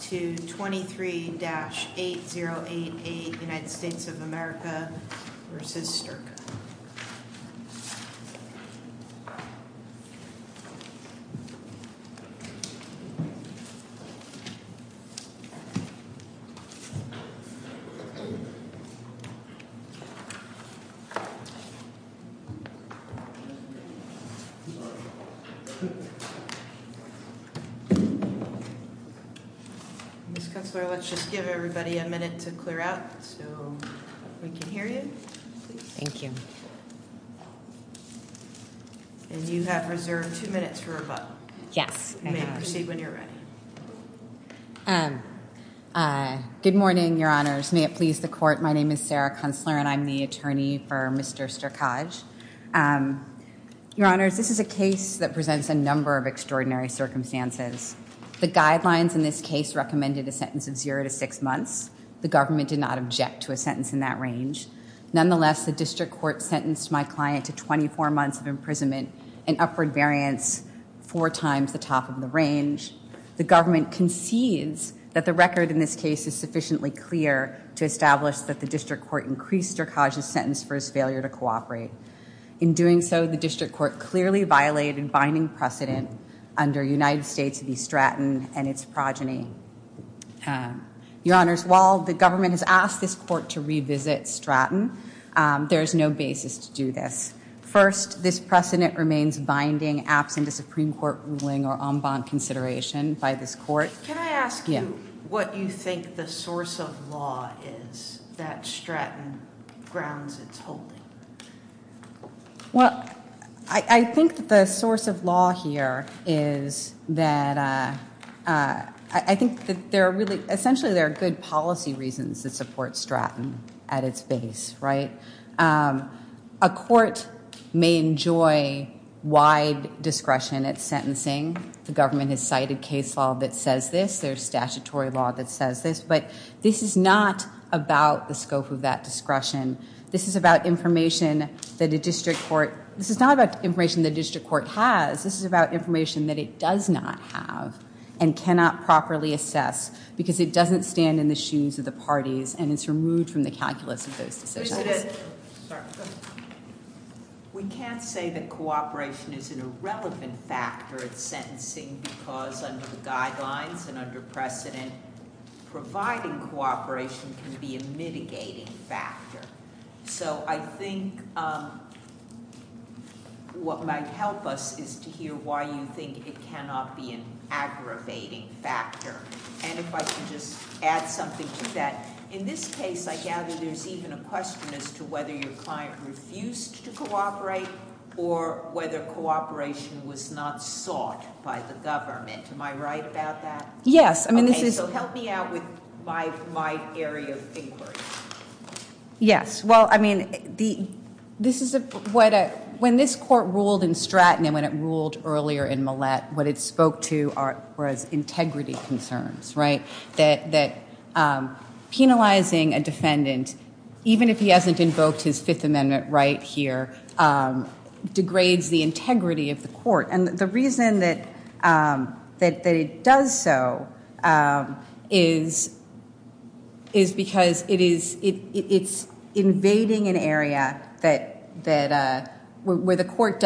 to 23-8088 United States of America v. Sterkaj. Ms. Kunstler, let's just give everybody a minute to clear out, so we can hear you. Thank you. And you have reserved two minutes for rebuttal. Yes. You may proceed when you're ready. Good morning, Your Honors. May it please the Court, my name is Sarah Kunstler and I'm the attorney for Mr. Sterkaj. Your Honors, this is a case that presents a number of extraordinary circumstances. The guidelines in this case recommended a sentence of zero to six months. The government did not object to a sentence in that range. Nonetheless, the district court sentenced my client to 24 months of imprisonment, an upward variance four times the top of the range. The government concedes that the record in this case is sufficiently clear to establish that the district court increased Sterkaj's sentence for his failure to cooperate. In doing so, the district court clearly violated binding precedent under United States v. Stratton and its progeny. Your Honors, while the government has asked this court to revisit Stratton, there is no basis to do this. First, this precedent remains binding, absent a Supreme Court ruling or en banc consideration by this court. Can I ask you what you think the source of law is that Stratton grounds its holding? Well, I think the source of law here is that I think that there are really, essentially there are good policy reasons that support Stratton at its base, right? A court may enjoy wide discretion at sentencing. The government has cited case law that says this. There's statutory law that says this. But this is not about the scope of that discretion. This is about information that a district court, this is not about information the district court has. This is about information that it does not have and cannot properly assess because it doesn't stand in the shoes of the parties and it's removed from the calculus of those decisions. Mr. President, we can't say that cooperation is an irrelevant factor at sentencing because under the guidelines and under precedent, providing cooperation can be a mitigating factor. So I think what might help us is to hear why you think it cannot be an aggravating factor. And if I could just add something to that. In this case, I gather there's even a question as to whether your client refused to cooperate or whether cooperation was not sought by the government. Am I right about that? Yes. So help me out with my area of inquiry. Yes, well, I mean, when this court ruled in Stratton and when it ruled earlier in Millett, what it spoke to was integrity concerns, right? That penalizing a defendant, even if he hasn't invoked his Fifth Amendment right here, degrades the integrity of the court. And the reason that it does so is because it's invading an area where the court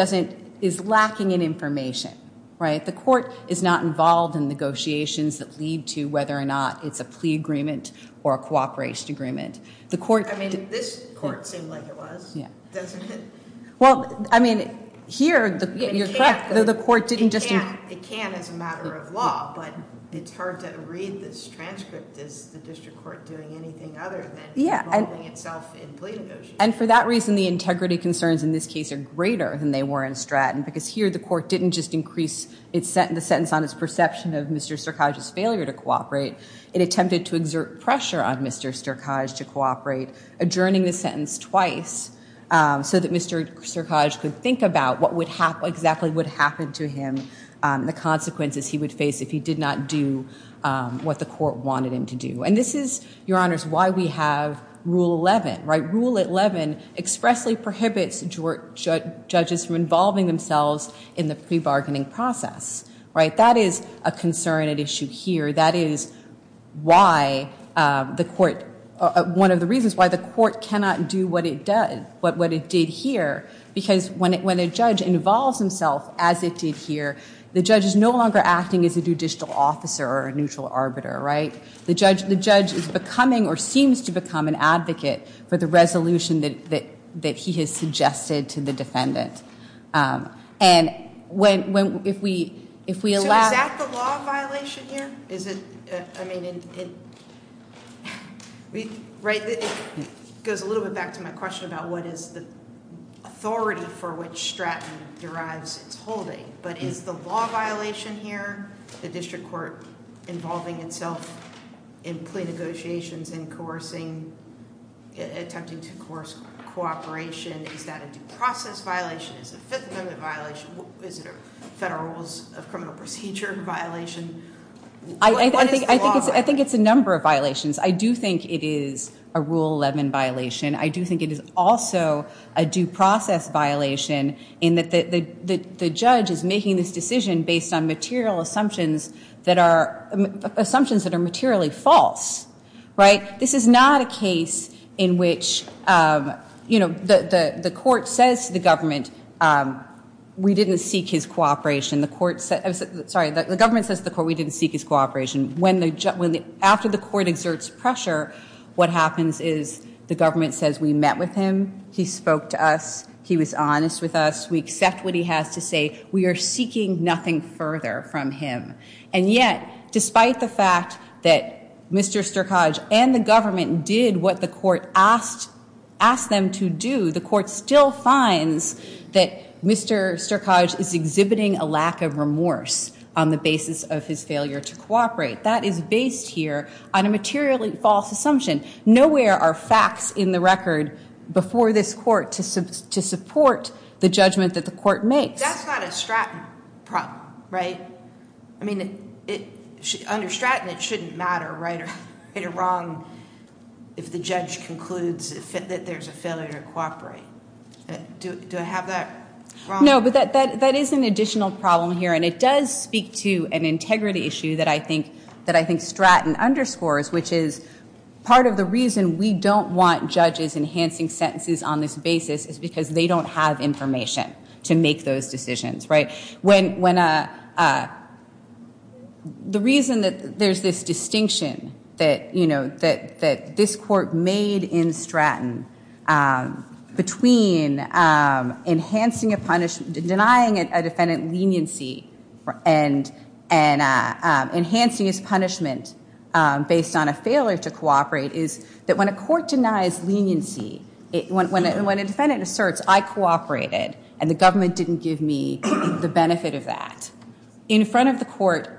is lacking in information, right? The court is not involved in negotiations that lead to whether or not it's a plea agreement or a cooperation agreement. I mean, this court seemed like it was, doesn't it? Well, I mean, here, you're correct. It can as a matter of law, but it's hard to read this transcript. Is the district court doing anything other than involving itself in plea negotiations? And for that reason, the integrity concerns in this case are greater than they were in Stratton, because here the court didn't just increase the sentence on its perception of Mr. Sterkaj's failure to cooperate. It attempted to exert pressure on Mr. Sterkaj to cooperate, adjourning the sentence twice, so that Mr. Sterkaj could think about what exactly would happen to him, the consequences he would face if he did not do what the court wanted him to do. And this is, Your Honors, why we have Rule 11, right? Rule 11 expressly prohibits judges from involving themselves in the plea bargaining process, right? That is a concern at issue here. That is why the court, one of the reasons why the court cannot do what it did here, because when a judge involves himself, as it did here, the judge is no longer acting as a judicial officer or a neutral arbiter, right? The judge is becoming or seems to become an advocate for the resolution that he has suggested to the defendant. So is that the law violation here? I mean, it goes a little bit back to my question about what is the authority for which Stratton derives its holding. But is the law violation here, the district court involving itself in plea negotiations and attempting to coerce cooperation, is that a due process violation, is it a Fifth Amendment violation, is it a Federal Rules of Criminal Procedure violation? I think it's a number of violations. I do think it is a Rule 11 violation. I do think it is also a due process violation in that the judge is making this decision based on material assumptions that are materially false, right? This is not a case in which, you know, the court says to the government, we didn't seek his cooperation. Sorry, the government says to the court, we didn't seek his cooperation. After the court exerts pressure, what happens is the government says, we met with him, he spoke to us, he was honest with us, we accept what he has to say, we are seeking nothing further from him. And yet, despite the fact that Mr. Sterkoj and the government did what the court asked them to do, the court still finds that Mr. Sterkoj is exhibiting a lack of remorse on the basis of his failure to cooperate. That is based here on a materially false assumption. Nowhere are facts in the record before this court to support the judgment that the court makes. That's not a Stratton problem, right? I mean, under Stratton, it shouldn't matter right or wrong if the judge concludes that there's a failure to cooperate. Do I have that wrong? No, but that is an additional problem here. And it does speak to an integrity issue that I think Stratton underscores, which is part of the reason we don't want judges enhancing sentences on this basis is because they don't have information to make those decisions, right? The reason that there's this distinction that this court made in Stratton between denying a defendant leniency and enhancing his punishment based on a failure to cooperate is that when a court denies leniency, when a defendant asserts, I cooperated and the government didn't give me the benefit of that. In front of the court,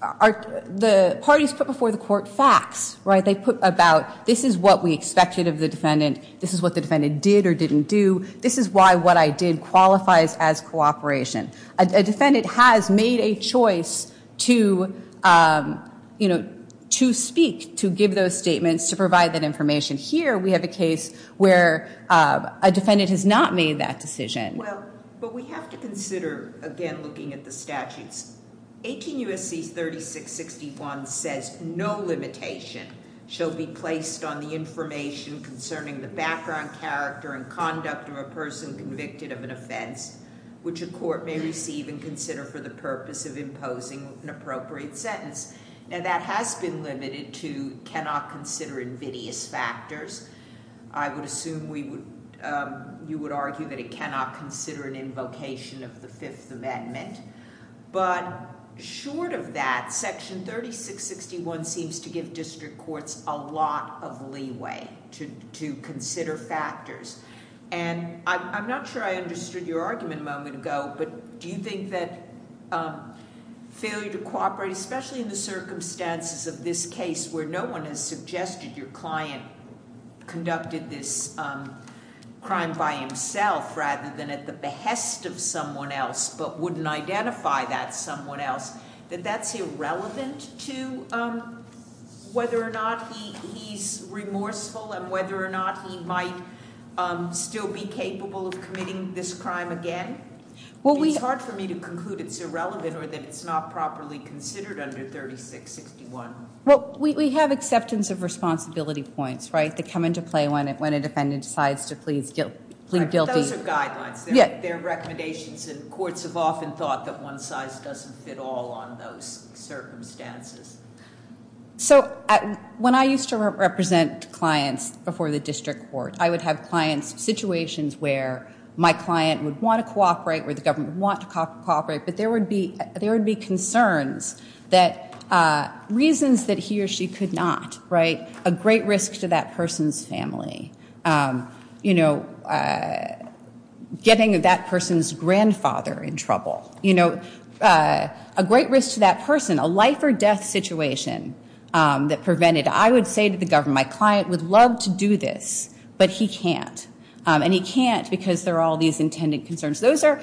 the parties put before the court facts, right? They put about, this is what we expected of the defendant. This is what the defendant did or didn't do. This is why what I did qualifies as cooperation. A defendant has made a choice to speak, to give those statements, to provide that information. Here, we have a case where a defendant has not made that decision. Well, but we have to consider, again, looking at the statutes. 18 U.S.C. 3661 says no limitation shall be placed on the information concerning the background, character, and conduct of a person convicted of an offense, which a court may receive and consider for the purpose of imposing an appropriate sentence. Now, that has been limited to cannot consider invidious factors. I would assume you would argue that it cannot consider an invocation of the Fifth Amendment. But short of that, Section 3661 seems to give district courts a lot of leeway to consider factors. And I'm not sure I understood your argument a moment ago, but do you think that failure to cooperate, especially in the circumstances of this case, where no one has suggested your client conducted this crime by himself rather than at the behest of someone else, but wouldn't identify that someone else, that that's irrelevant to whether or not he's remorseful and whether or not he might still be capable of committing this crime again? It's hard for me to conclude it's irrelevant or that it's not properly considered under 3661. Well, we have acceptance of responsibility points, right, that come into play when a defendant decides to plead guilty. Those are guidelines. They're recommendations. And courts have often thought that one size doesn't fit all on those circumstances. So when I used to represent clients before the district court, I would have clients' situations where my client would want to cooperate or the government would want to cooperate, but there would be concerns that reasons that he or she could not, right, a great risk to that person's family, you know, getting that person's grandfather in trouble, you know, a great risk to that person, a life or death situation that prevented. I would say to the government, my client would love to do this, but he can't, and he can't because there are all these intended concerns. Those are,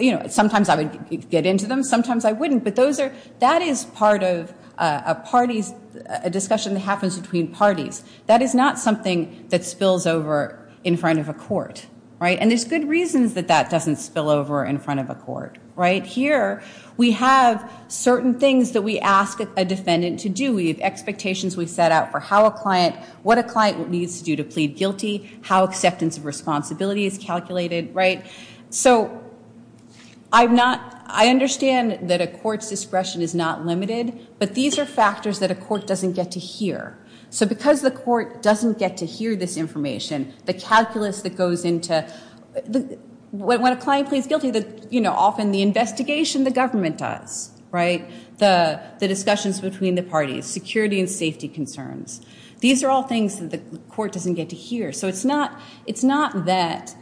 you know, sometimes I would get into them, sometimes I wouldn't, but that is part of a discussion that happens between parties. That is not something that spills over in front of a court, right? And there's good reasons that that doesn't spill over in front of a court, right? But here we have certain things that we ask a defendant to do. We have expectations we set out for how a client, what a client needs to do to plead guilty, how acceptance of responsibility is calculated, right? So I've not, I understand that a court's discretion is not limited, but these are factors that a court doesn't get to hear. So because the court doesn't get to hear this information, the calculus that goes into, when a client pleads guilty, you know, often the investigation the government does, right? The discussions between the parties, security and safety concerns. These are all things that the court doesn't get to hear. So it's not that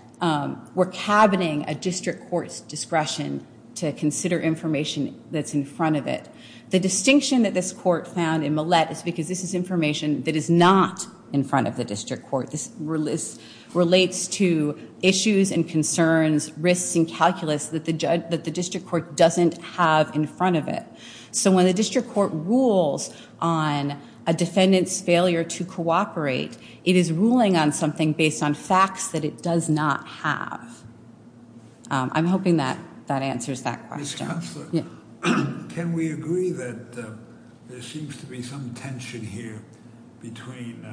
we're cabining a district court's discretion to consider information that's in front of it. The distinction that this court found in Millett is because this is information that is not in front of the district court. This relates to issues and concerns, risks and calculus that the district court doesn't have in front of it. So when the district court rules on a defendant's failure to cooperate, it is ruling on something based on facts that it does not have. I'm hoping that that answers that question. Can we agree that there seems to be some tension here between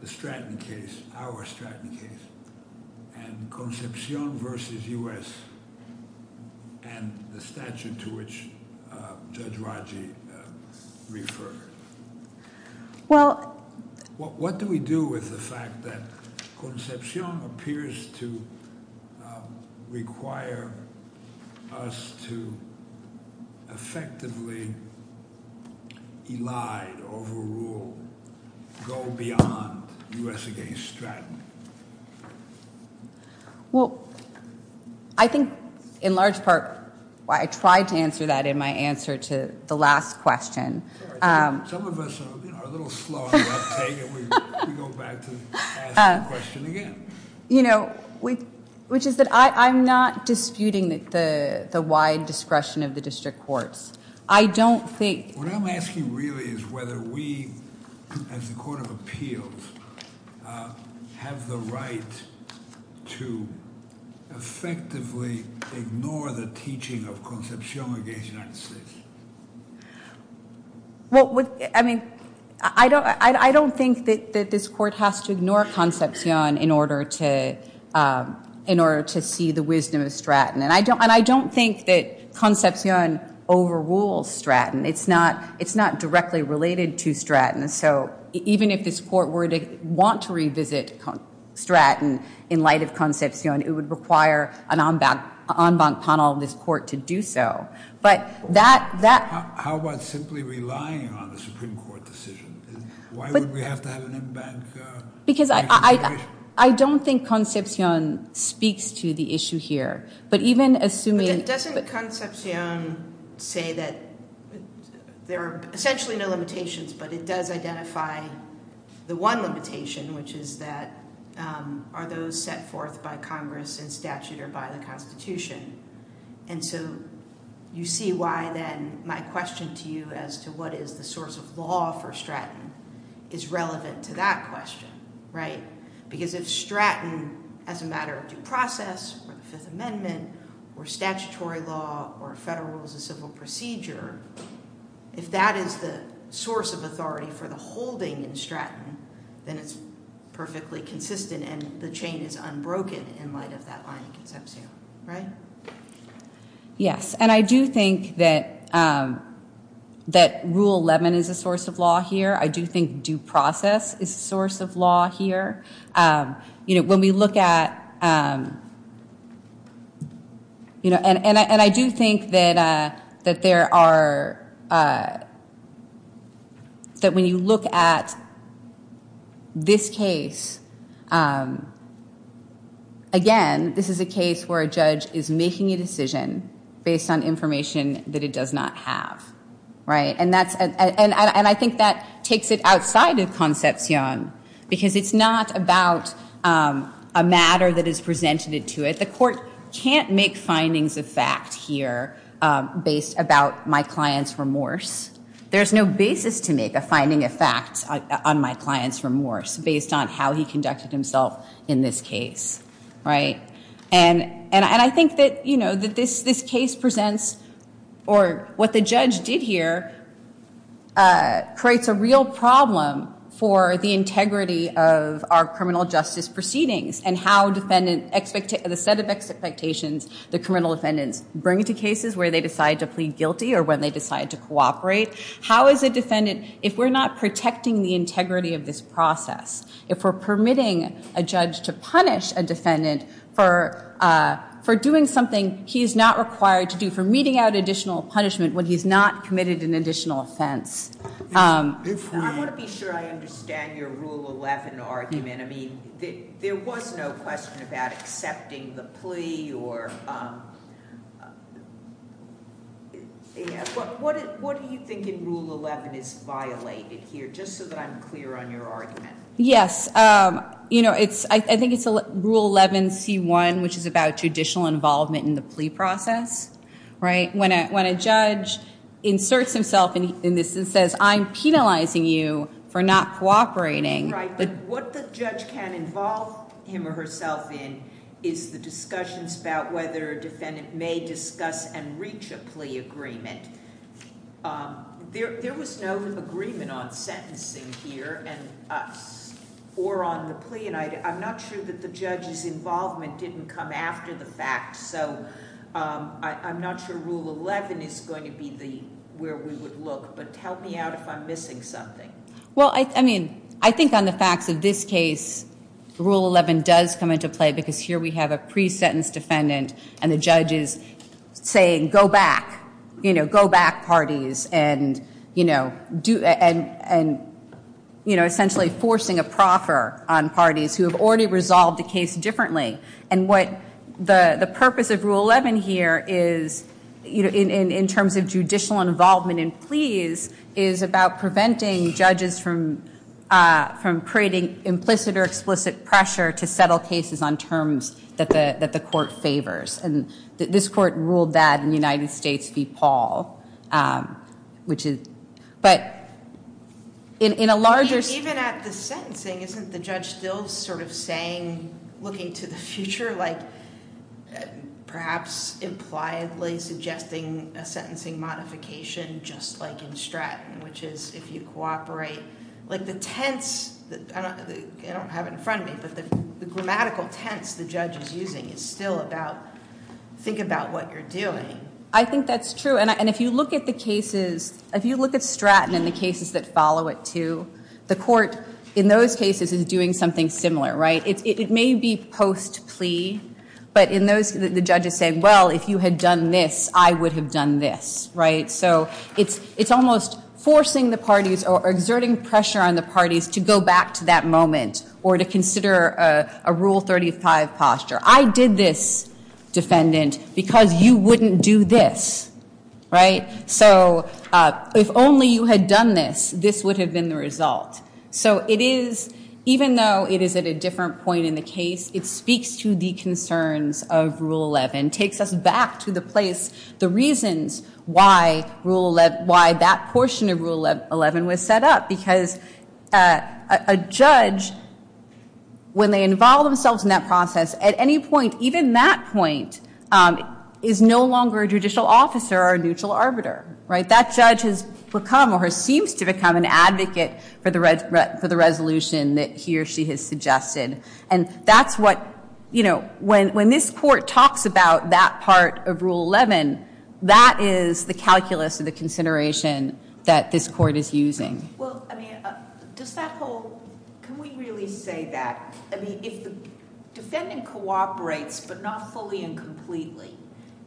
the Stratton case, our Stratton case, and Concepcion versus U.S. and the statute to which Judge Raji referred? What do we do with the fact that Concepcion appears to require us to effectively elide, overrule, go beyond U.S. against Stratton? Well, I think in large part I tried to answer that in my answer to the last question. Some of us are a little slow on the uptake, and we go back to ask the question again. You know, which is that I'm not disputing the wide discretion of the district courts. I don't think- What I'm asking really is whether we, as a court of appeals, have the right to effectively ignore the teaching of Concepcion against the United States. Well, I mean, I don't think that this court has to ignore Concepcion in order to see the wisdom of Stratton. And I don't think that Concepcion overrules Stratton. It's not directly related to Stratton. So even if this court were to want to revisit Stratton in light of Concepcion, it would require an en banc panel of this court to do so. But that- How about simply relying on the Supreme Court decision? Why would we have to have an en banc- Because I don't think Concepcion speaks to the issue here. But even assuming- I would say that there are essentially no limitations, but it does identify the one limitation, which is that are those set forth by Congress in statute or by the Constitution? And so you see why then my question to you as to what is the source of law for Stratton is relevant to that question, right? Because if Stratton as a matter of due process or the Fifth Amendment or statutory law or federal as a civil procedure, if that is the source of authority for the holding in Stratton, then it's perfectly consistent and the chain is unbroken in light of that line of Concepcion, right? Yes. And I do think that Rule 11 is a source of law here. I do think due process is a source of law here. When we look at- And I do think that there are- That when you look at this case, again, this is a case where a judge is making a decision based on information that it does not have, right? And I think that takes it outside of Concepcion because it's not about a matter that is presented to it. The court can't make findings of fact here based about my client's remorse. There's no basis to make a finding of fact on my client's remorse based on how he conducted himself in this case, right? And I think that this case presents- Or what the judge did here creates a real problem for the integrity of our criminal justice proceedings and how the set of expectations the criminal defendants bring to cases where they decide to plead guilty or when they decide to cooperate. How is a defendant- For doing something he is not required to do, for meting out additional punishment when he's not committed an additional offense. If we- I want to be sure I understand your Rule 11 argument. I mean, there was no question about accepting the plea or- What do you think in Rule 11 is violated here, just so that I'm clear on your argument? Yes. You know, I think it's Rule 11C1, which is about judicial involvement in the plea process, right? When a judge inserts himself in this and says, I'm penalizing you for not cooperating- Right, but what the judge can involve him or herself in is the discussions about whether a defendant may discuss and reach a plea agreement. There was no agreement on sentencing here or on the plea, and I'm not sure that the judge's involvement didn't come after the fact. So I'm not sure Rule 11 is going to be where we would look, but help me out if I'm missing something. Well, I mean, I think on the facts of this case, Rule 11 does come into play because here we have a pre-sentenced defendant and the judge is saying, go back, go back, parties, and essentially forcing a proffer on parties who have already resolved the case differently. And what the purpose of Rule 11 here is, in terms of judicial involvement in pleas, is about preventing judges from creating implicit or explicit pressure to settle cases on terms that the court favors. And this court ruled that in United States v. Paul, which is- But in a larger- Even at the sentencing, isn't the judge still sort of saying, looking to the future, like perhaps impliedly suggesting a sentencing modification just like in Stratton, which is if you cooperate, like the tense, I don't have it in front of me, but the grammatical tense the judge is using is still about think about what you're doing. I think that's true. And if you look at the cases, if you look at Stratton and the cases that follow it, too, the court in those cases is doing something similar, right? It may be post-plea, but in those, the judge is saying, well, if you had done this, I would have done this, right? So it's almost forcing the parties or exerting pressure on the parties to go back to that moment or to consider a Rule 35 posture. I did this, defendant, because you wouldn't do this, right? So if only you had done this, this would have been the result. So it is, even though it is at a different point in the case, it speaks to the concerns of Rule 11, takes us back to the place, the reasons why that portion of Rule 11 was set up, because a judge, when they involve themselves in that process, at any point, even that point, is no longer a judicial officer or a neutral arbiter, right? That judge has become or seems to become an advocate for the resolution that he or she has suggested. And that's what, you know, when this court talks about that part of Rule 11, that is the calculus of the consideration that this court is using. Well, I mean, does that whole, can we really say that? I mean, if the defendant cooperates, but not fully and completely,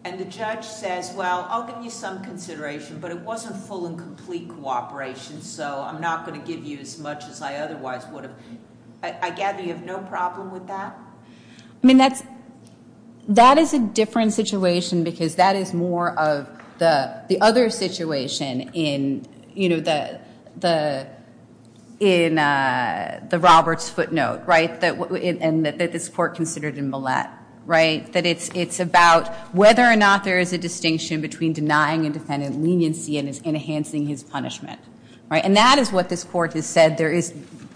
and the judge says, well, I'll give you some consideration, but it wasn't full and complete cooperation, so I'm not going to give you as much as I otherwise would have, I gather you have no problem with that? I mean, that is a different situation because that is more of the other situation in, you know, the Roberts footnote, right, and that this court considered in Millett, right? That it's about whether or not there is a distinction between denying a defendant leniency and enhancing his punishment. And that is what this court has said.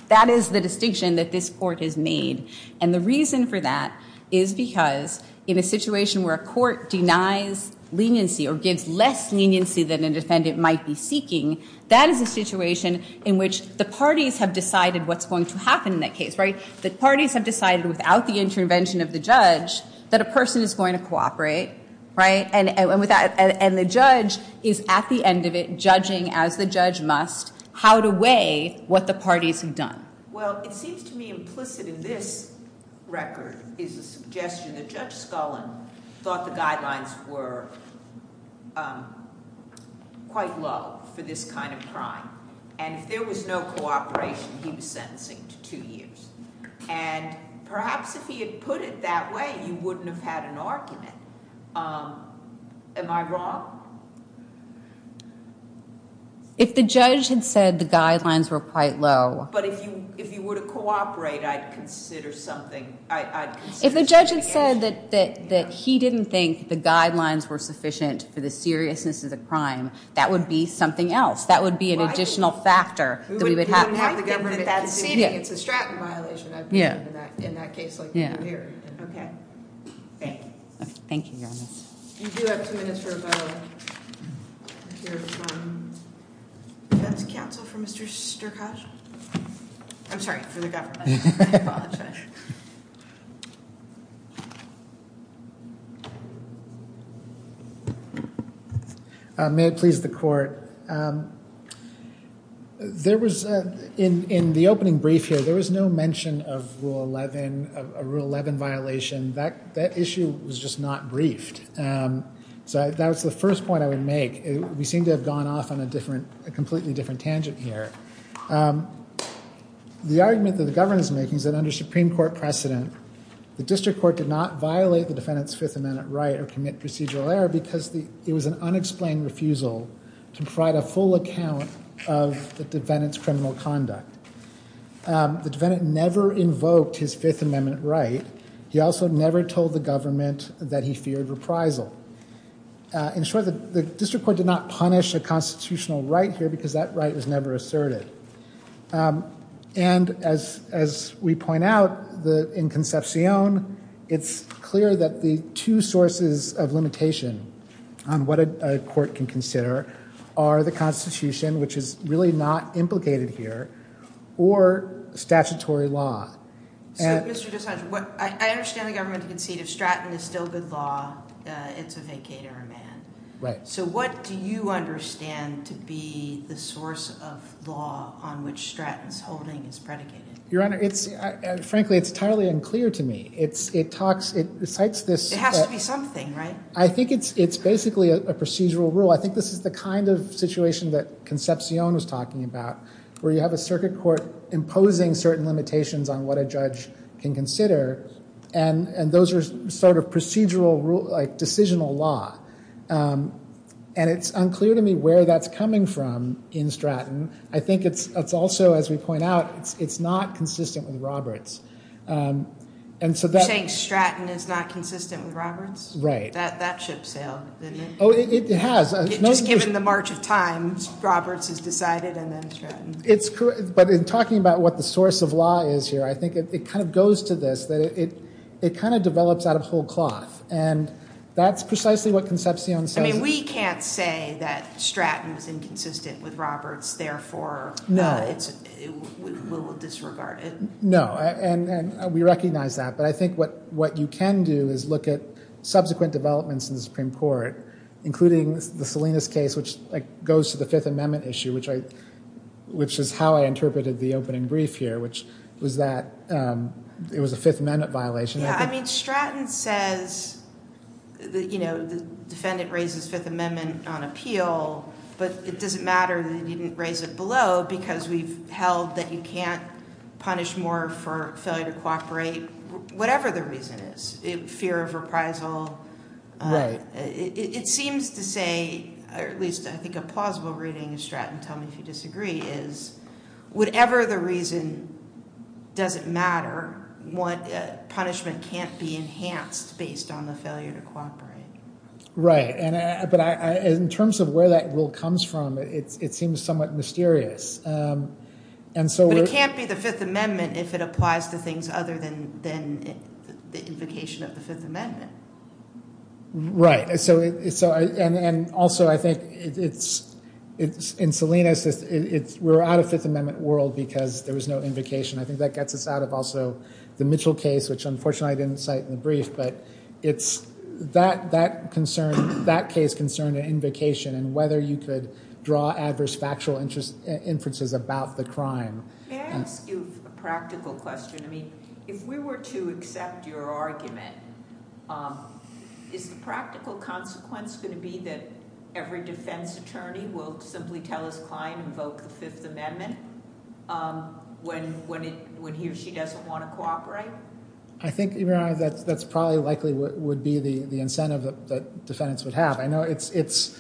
That is the distinction that this court has made. And the reason for that is because in a situation where a court denies leniency or gives less leniency than a defendant might be seeking, that is a situation in which the parties have decided what's going to happen in that case, right? The parties have decided without the intervention of the judge that a person is going to cooperate, right? And the judge is at the end of it judging as the judge must how to weigh what the parties have done. Well, it seems to me implicit in this record is a suggestion that Judge Scullin thought the guidelines were quite low for this kind of crime. And if there was no cooperation, he was sentencing to two years. And perhaps if he had put it that way, you wouldn't have had an argument. Am I wrong? If the judge had said the guidelines were quite low. But if you were to cooperate, I'd consider something. If the judge had said that he didn't think the guidelines were sufficient for the seriousness of the crime, that would be something else. That would be an additional factor. We wouldn't have the government conceding. It's a stratum violation, I believe, in that case. Okay. Thank you. Thank you, Your Honor. You do have two minutes for a vote. That's counsel for Mr. Sterkosz. I'm sorry, for the government. May it please the court. There was, in the opening brief here, there was no mention of Rule 11, a Rule 11 violation. That issue was just not briefed. So that was the first point I would make. We seem to have gone off on a completely different tangent here. The argument that the government is making is that under Supreme Court precedent, the District Court did not violate the defendant's Fifth Amendment right or commit procedural error because it was an unexplained refusal to provide a full account of the defendant's criminal conduct. The defendant never invoked his Fifth Amendment right. He also never told the government that he feared reprisal. In short, the District Court did not punish a constitutional right here because that right was never asserted. And as we point out, in Concepcion, it's clear that the two sources of limitation on what a court can consider are the Constitution, which is really not implicated here, or statutory law. So, Mr. DeSantis, I understand the government concedes if Stratton is still good law, it's a vacater of man. So what do you understand to be the source of law on which Stratton's holding is predicated? Your Honor, frankly, it's entirely unclear to me. It has to be something, right? I think it's basically a procedural rule. I think this is the kind of situation that Concepcion was talking about, where you have a circuit court imposing certain limitations on what a judge can consider, and those are sort of procedural, like, decisional law. And it's unclear to me where that's coming from in Stratton. I think it's also, as we point out, it's not consistent with Roberts. You're saying Stratton is not consistent with Roberts? Right. That ship sailed, didn't it? Oh, it has. Just given the march of time, Roberts is decided, and then Stratton. But in talking about what the source of law is here, I think it kind of goes to this, that it kind of develops out of whole cloth. And that's precisely what Concepcion says. I mean, we can't say that Stratton is inconsistent with Roberts, therefore we will disregard it. No, and we recognize that. But I think what you can do is look at subsequent developments in the Supreme Court, including the Salinas case, which goes to the Fifth Amendment issue, which is how I interpreted the opening brief here, which was that it was a Fifth Amendment violation. Yeah, I mean, Stratton says the defendant raises Fifth Amendment on appeal, but it doesn't matter that he didn't raise it below because we've held that you can't punish more for failure to cooperate, whatever the reason is. Fear of reprisal. Right. It seems to say, or at least I think a plausible reading of Stratton, tell me if you disagree, is whatever the reason doesn't matter, punishment can't be enhanced based on the failure to cooperate. Right. But in terms of where that rule comes from, it seems somewhat mysterious. But it can't be the Fifth Amendment if it applies to things other than the invocation of the Fifth Amendment. Right. And also, I think in Salinas, we're out of Fifth Amendment world because there was no invocation. I think that gets us out of also the Mitchell case, which unfortunately I didn't cite in the brief. But that case concerned an invocation and whether you could draw adverse factual inferences about the crime. May I ask you a practical question? I mean, if we were to accept your argument, is the practical consequence going to be that every defense attorney will simply tell his client to invoke the Fifth Amendment when he or she doesn't want to cooperate? I think that's probably likely what would be the incentive that defendants would have. I know it's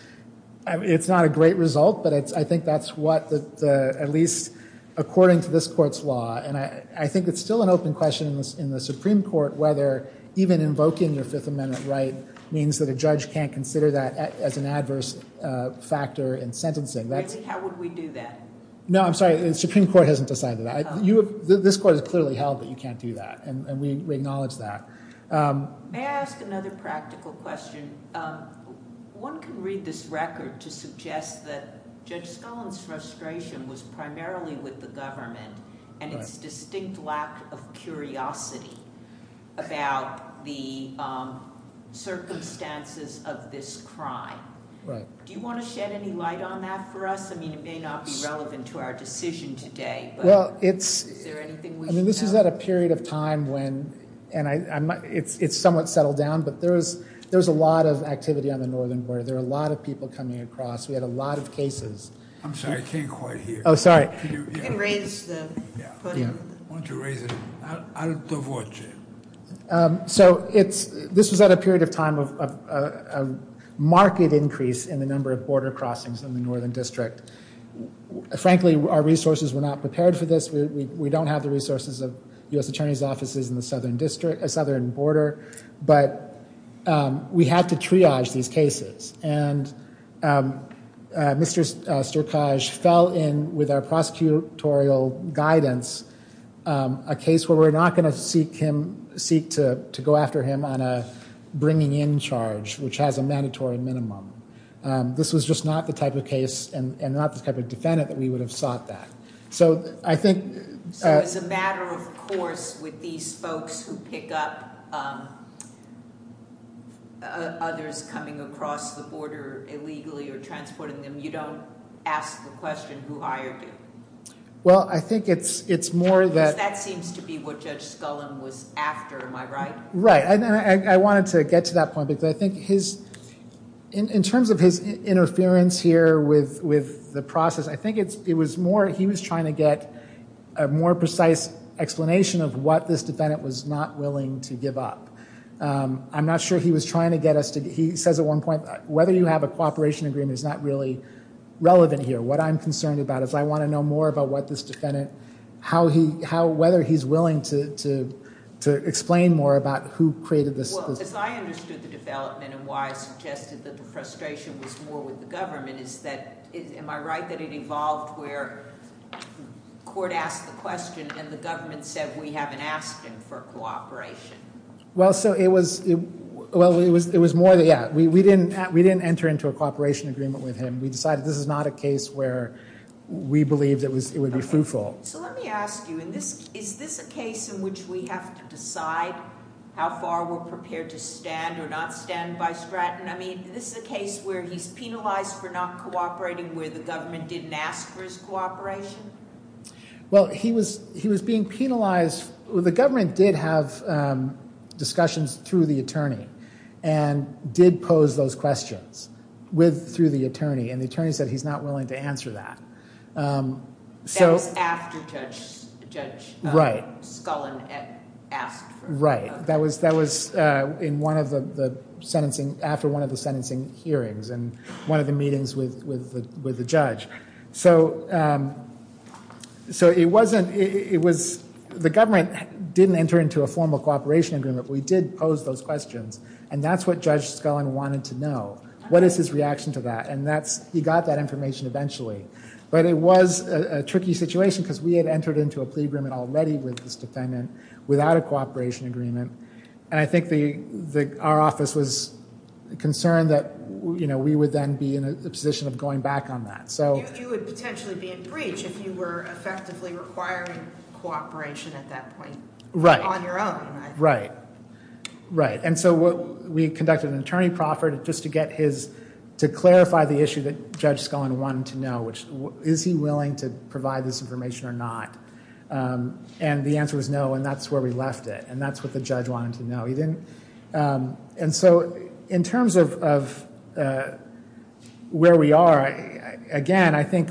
not a great result, but I think that's at least according to this court's law. And I think it's still an open question in the Supreme Court whether even invoking your Fifth Amendment right means that a judge can't consider that as an adverse factor in sentencing. How would we do that? No, I'm sorry. The Supreme Court hasn't decided that. This court has clearly held that you can't do that. And we acknowledge that. May I ask another practical question? One can read this record to suggest that Judge Scullin's frustration was primarily with the government and its distinct lack of curiosity about the circumstances of this crime. Do you want to shed any light on that for us? I mean, it may not be relevant to our decision today, but is there anything we should know? I mean, this is at a period of time when, and it's somewhat settled down, but there's a lot of activity on the northern border. There are a lot of people coming across. We had a lot of cases. I'm sorry. I can't quite hear. Oh, sorry. You can raise the podium. Why don't you raise it? So this was at a period of time of marked increase in the number of border crossings in the northern district. Frankly, our resources were not prepared for this. We don't have the resources of U.S. attorney's offices in the southern border, but we had to triage these cases. And Mr. Sturkage fell in with our prosecutorial guidance a case where we're not going to seek to go after him on a bringing in charge, which has a mandatory minimum. This was just not the type of case and not the type of defendant that we would have sought that. So as a matter of course with these folks who pick up others coming across the border illegally or transporting them, you don't ask the question who hired you? Well, I think it's more that- Because that seems to be what Judge Scullin was after. Am I right? Right. I wanted to get to that point because I think his- In terms of his interference here with the process, I think it was more he was trying to get a more precise explanation of what this defendant was not willing to give up. I'm not sure he was trying to get us to- Well, as I understood the development and why I suggested that the frustration was more with the government is that- Am I right that it evolved where court asked the question and the government said we haven't asked him for cooperation? Well, so it was- Well, it was more that, yeah, we didn't enter into a cooperation agreement with him. We decided this is not a case where we believed it would be fruitful. So let me ask you, is this a case in which we have to decide how far we're prepared to stand or not stand by Stratton? I mean, this is a case where he's penalized for not cooperating where the government didn't ask for his cooperation? Well, he was being penalized- The government did have discussions through the attorney and did pose those questions through the attorney, and the attorney said he's not willing to answer that. That was after Judge Scullin asked for- Right. That was in one of the sentencing- after one of the sentencing hearings and one of the meetings with the judge. So it wasn't- it was- the government didn't enter into a formal cooperation agreement. We did pose those questions, and that's what Judge Scullin wanted to know. What is his reaction to that? And he got that information eventually. But it was a tricky situation because we had entered into a plea agreement already with his defendant without a cooperation agreement. And I think our office was concerned that we would then be in a position of going back on that. You would potentially be in breach if you were effectively requiring cooperation at that point on your own. Right. Right. Right. And so we conducted an attorney proffer just to get his- to clarify the issue that Judge Scullin wanted to know, which is he willing to provide this information or not? And the answer was no, and that's where we left it, and that's what the judge wanted to know. He didn't- and so in terms of where we are, again, I think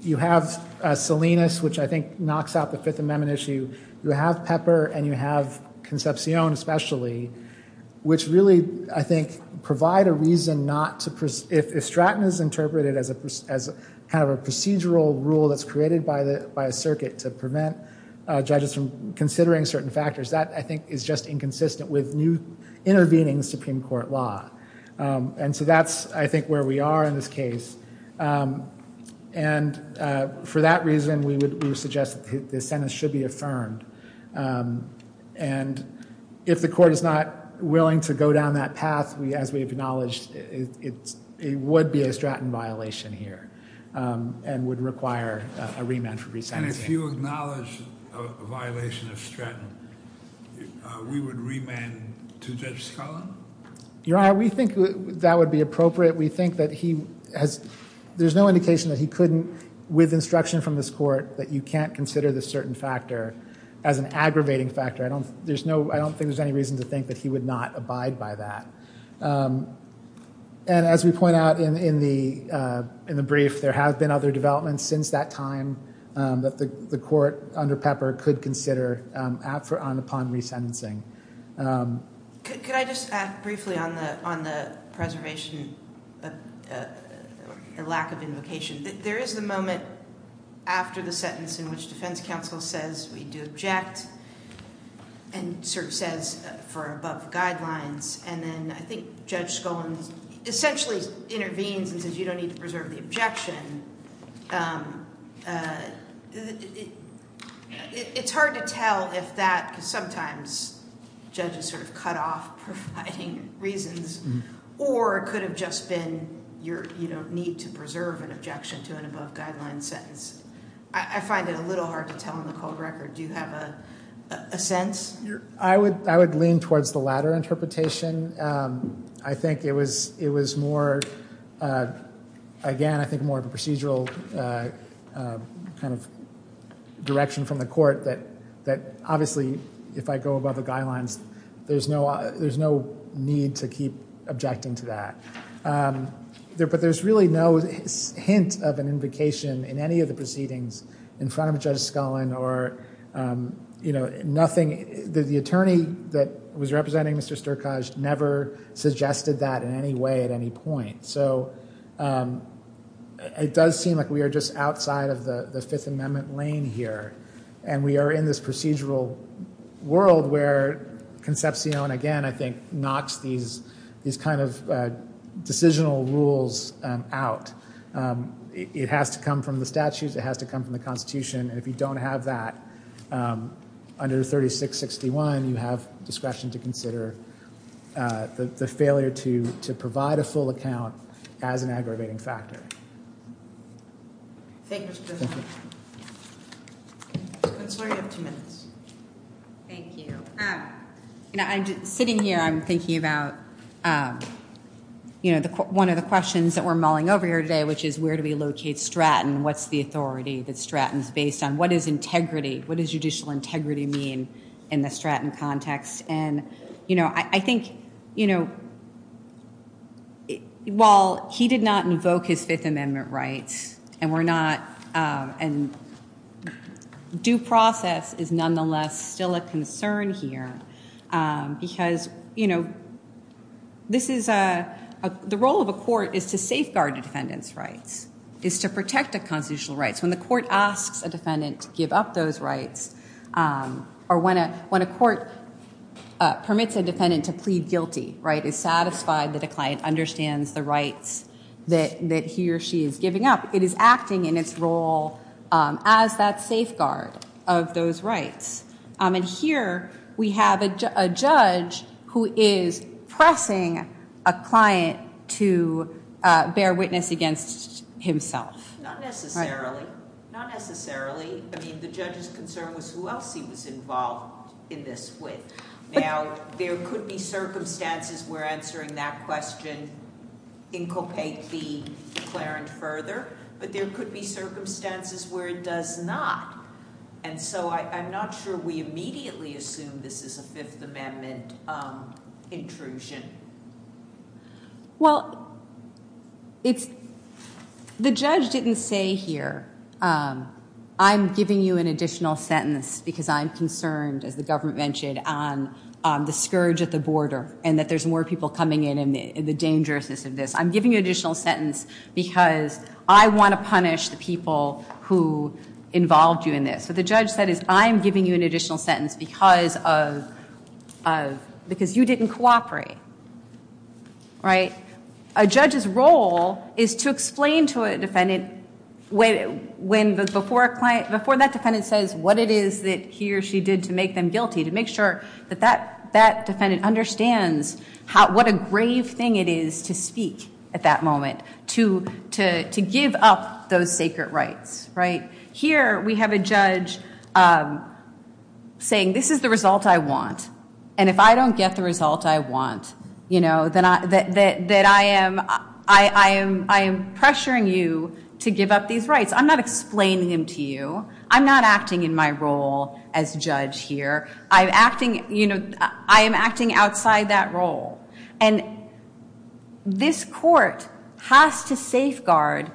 you have Salinas, which I think knocks out the Fifth Amendment issue. You have Pepper, and you have Concepcion especially, which really, I think, provide a reason not to- if Stratton is interpreted as kind of a procedural rule that's created by a circuit to prevent judges from considering certain factors, that, I think, is just inconsistent with new intervening Supreme Court law. And so that's, I think, where we are in this case. And for that reason, we would suggest that the sentence should be affirmed. And if the court is not willing to go down that path, as we've acknowledged, it would be a Stratton violation here and would require a remand for resentencing. And if you acknowledge a violation of Stratton, we would remand to Judge Scullin? Your Honor, we think that would be appropriate. We think that he has- there's no indication that he couldn't, with instruction from this court, that you can't consider this certain factor as an aggravating factor. I don't think there's any reason to think that he would not abide by that. And as we point out in the brief, there have been other developments since that time that the court under Pepper could consider upon resentencing. Could I just add briefly on the preservation and lack of invocation? There is the moment after the sentence in which defense counsel says we do object and sort of says for above guidelines. And then I think Judge Scullin essentially intervenes and says you don't need to preserve the objection. It's hard to tell if that sometimes judges sort of cut off providing reasons or it could have just been you don't need to preserve an objection to an above guideline sentence. I find it a little hard to tell in the cold record. Do you have a sense? I would lean towards the latter interpretation. I think it was more, again, I think more of a procedural kind of direction from the court that obviously if I go above the guidelines, there's no need to keep objecting to that. But there's really no hint of an invocation in any of the proceedings in front of Judge Scullin or nothing. The attorney that was representing Mr. Sturkaj never suggested that in any way at any point. So it does seem like we are just outside of the Fifth Amendment lane here. And we are in this procedural world where Concepcion, again, I think, knocks these kind of decisional rules out. It has to come from the statutes. It has to come from the Constitution. And if you don't have that under 3661, you have discretion to consider the failure to provide a full account as an aggravating factor. Thank you, Mr. President. Thank you. Counselor, you have two minutes. Thank you. Sitting here, I'm thinking about one of the questions that we're mulling over here today, which is where do we locate Stratton? What's the authority that Stratton's based on? What is integrity? What does judicial integrity mean in the Stratton context? And, you know, I think, you know, while he did not invoke his Fifth Amendment rights, and we're not, and due process is nonetheless still a concern here. Because, you know, this is a, the role of a court is to safeguard a defendant's rights, is to protect a constitutional rights. When the court asks a defendant to give up those rights, or when a court permits a defendant to plead guilty, right, is satisfied that a client understands the rights that he or she is giving up, it is acting in its role as that safeguard of those rights. And here we have a judge who is pressing a client to bear witness against himself. Not necessarily. Not necessarily. I mean, the judge's concern was who else he was involved in this with. Now, there could be circumstances where answering that question inculcate the declarant further, but there could be circumstances where it does not. And so I'm not sure we immediately assume this is a Fifth Amendment intrusion. Well, it's, the judge didn't say here, I'm giving you an additional sentence because I'm concerned, as the government mentioned, on the scourge at the border, and that there's more people coming in and the dangerousness of this. I'm giving you an additional sentence because I want to punish the people who involved you in this. So the judge said, I'm giving you an additional sentence because you didn't cooperate. A judge's role is to explain to a defendant, before that defendant says what it is that he or she did to make them guilty, to make sure that that defendant understands what a grave thing it is to speak at that moment, to give up those sacred rights. Here, we have a judge saying, this is the result I want. And if I don't get the result I want, then I am pressuring you to give up these rights. I'm not explaining them to you. I'm not acting in my role as judge here. I'm acting outside that role. And this court has to safeguard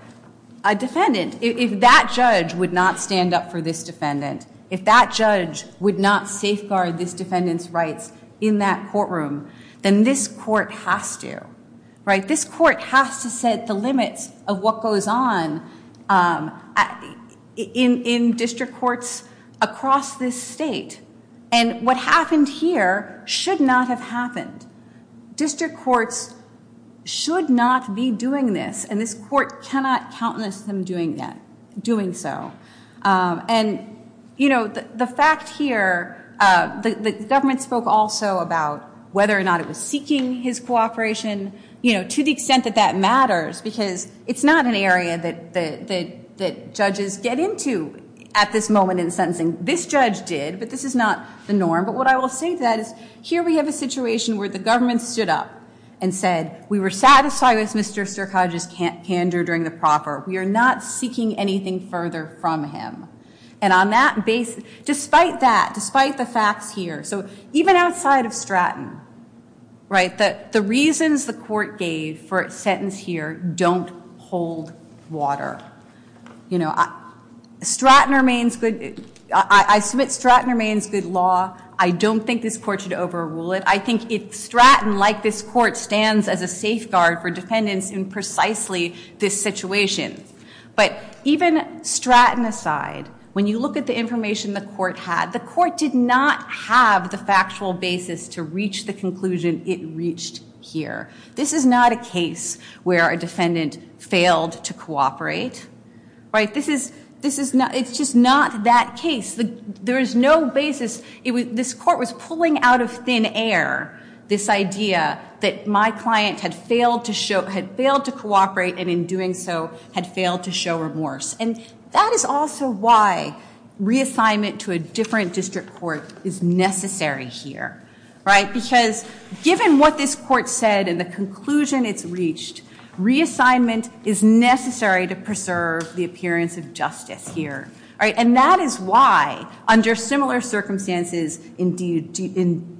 a defendant. If that judge would not stand up for this defendant, if that judge would not safeguard this defendant's rights in that courtroom, then this court has to. This court has to set the limits of what goes on in district courts across this state. And what happened here should not have happened. District courts should not be doing this. And this court cannot countenance them doing so. And the fact here, the government spoke also about whether or not it was seeking his cooperation, to the extent that that matters, because it's not an area that judges get into at this moment in sentencing. This judge did, but this is not the norm. But what I will say to that is, here we have a situation where the government stood up and said, we were satisfied with Mr. Sterkodjic's candor during the proper. We are not seeking anything further from him. And on that basis, despite that, despite the facts here, so even outside of Stratton, right, the reasons the court gave for its sentence here don't hold water. You know, I submit Stratton remains good law. I don't think this court should overrule it. I think Stratton, like this court, stands as a safeguard for defendants in precisely this situation. But even Stratton aside, when you look at the information the court had, the court did not have the factual basis to reach the conclusion it reached here. This is not a case where a defendant failed to cooperate, right? This is not, it's just not that case. There is no basis. This court was pulling out of thin air this idea that my client had failed to cooperate and in doing so had failed to show remorse. And that is also why reassignment to a different district court is necessary here, right? Because given what this court said and the conclusion it's reached, reassignment is necessary to preserve the appearance of justice here, right? And that is why under similar circumstances in DiGiovanni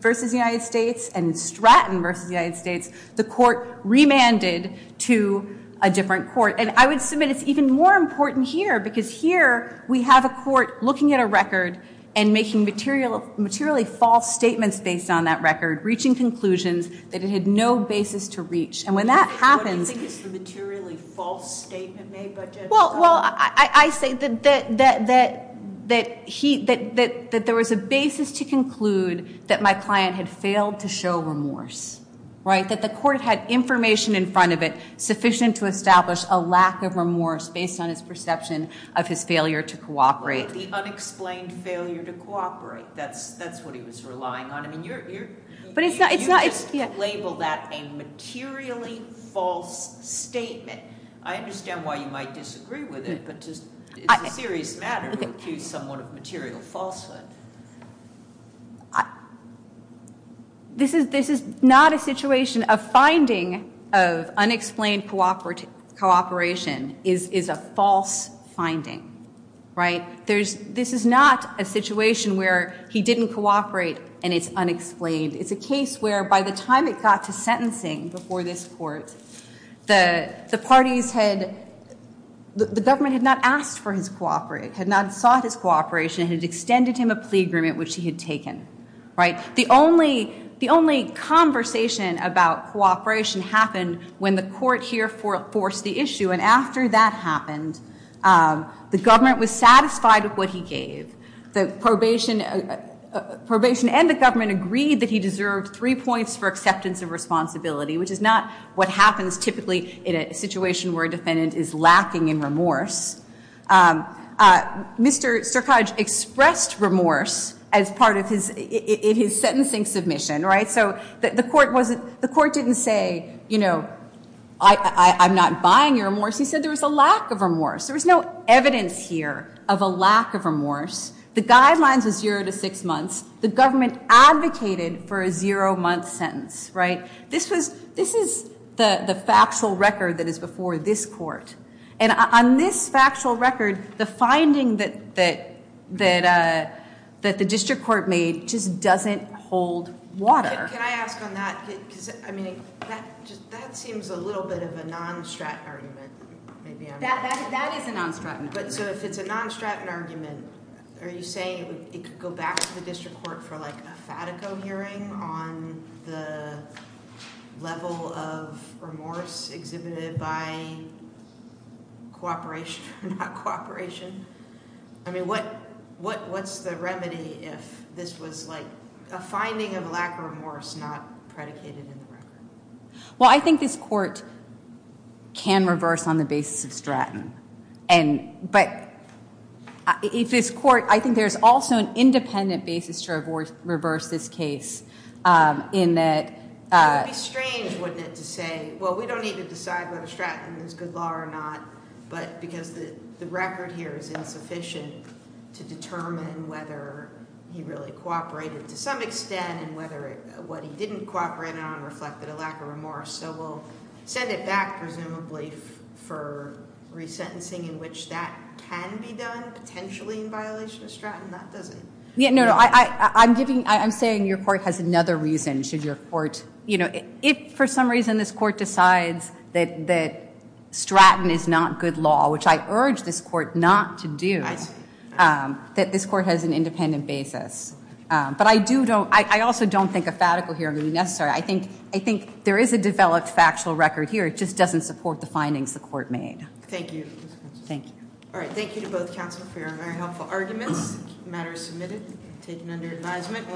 versus the United States and Stratton versus the United States, the court remanded to a different court. And I would submit it's even more important here because here we have a court looking at a record and making materially false statements based on that record, reaching conclusions that it had no basis to reach. And when that happens- What do you think is the materially false statement made by Judge Stratton? Well, I say that there was a basis to conclude that my client had failed to show remorse, right? That the court had information in front of it sufficient to establish a lack of remorse based on his perception of his failure to cooperate. The unexplained failure to cooperate. That's what he was relying on. I mean, you just labeled that a materially false statement. I understand why you might disagree with it, but it's a serious matter to accuse someone of material falsehood. This is not a situation. A finding of unexplained cooperation is a false finding, right? This is not a situation where he didn't cooperate and it's unexplained. It's a case where by the time it got to sentencing before this court, the parties had- the government had not asked for his cooperation, had not sought his cooperation, and had extended him a plea agreement, which he had taken, right? The only conversation about cooperation happened when the court here forced the issue. And after that happened, the government was satisfied with what he gave. The probation and the government agreed that he deserved three points for acceptance of responsibility, which is not what happens typically in a situation where a defendant is lacking in remorse. Mr. Sirkaj expressed remorse as part of his- in his sentencing submission, right? So the court wasn't- the court didn't say, you know, I'm not buying your remorse. He said there was a lack of remorse. There was no evidence here of a lack of remorse. The guidelines were zero to six months. The government advocated for a zero-month sentence, right? This was- this is the factual record that is before this court. And on this factual record, the finding that the district court made just doesn't hold water. Can I ask on that? Because, I mean, that seems a little bit of a non-straten argument. That is a non-straten argument. So if it's a non-straten argument, are you saying it could go back to the district court for, like, cooperation or not cooperation? I mean, what's the remedy if this was, like, a finding of lack of remorse not predicated in the record? Well, I think this court can reverse on the basis of straten. And- but if this court- I think there's also an independent basis to reverse this case in that- It would be strange, wouldn't it, to say, well, we don't need to decide whether straten is good law or not, but because the record here is insufficient to determine whether he really cooperated to some extent and whether what he didn't cooperate on reflected a lack of remorse. So we'll send it back, presumably, for resentencing in which that can be done, potentially in violation of straten. That doesn't- Yeah, no, no, I'm giving- I'm saying your court has another reason. Should your court- you know, if for some reason this court decides that straten is not good law, which I urge this court not to do, that this court has an independent basis. But I do don't- I also don't think a fatical hearing would be necessary. I think there is a developed factual record here. It just doesn't support the findings the court made. Thank you. Thank you. All right, thank you to both counsel for your very helpful arguments. The matter is submitted and taken under advisement.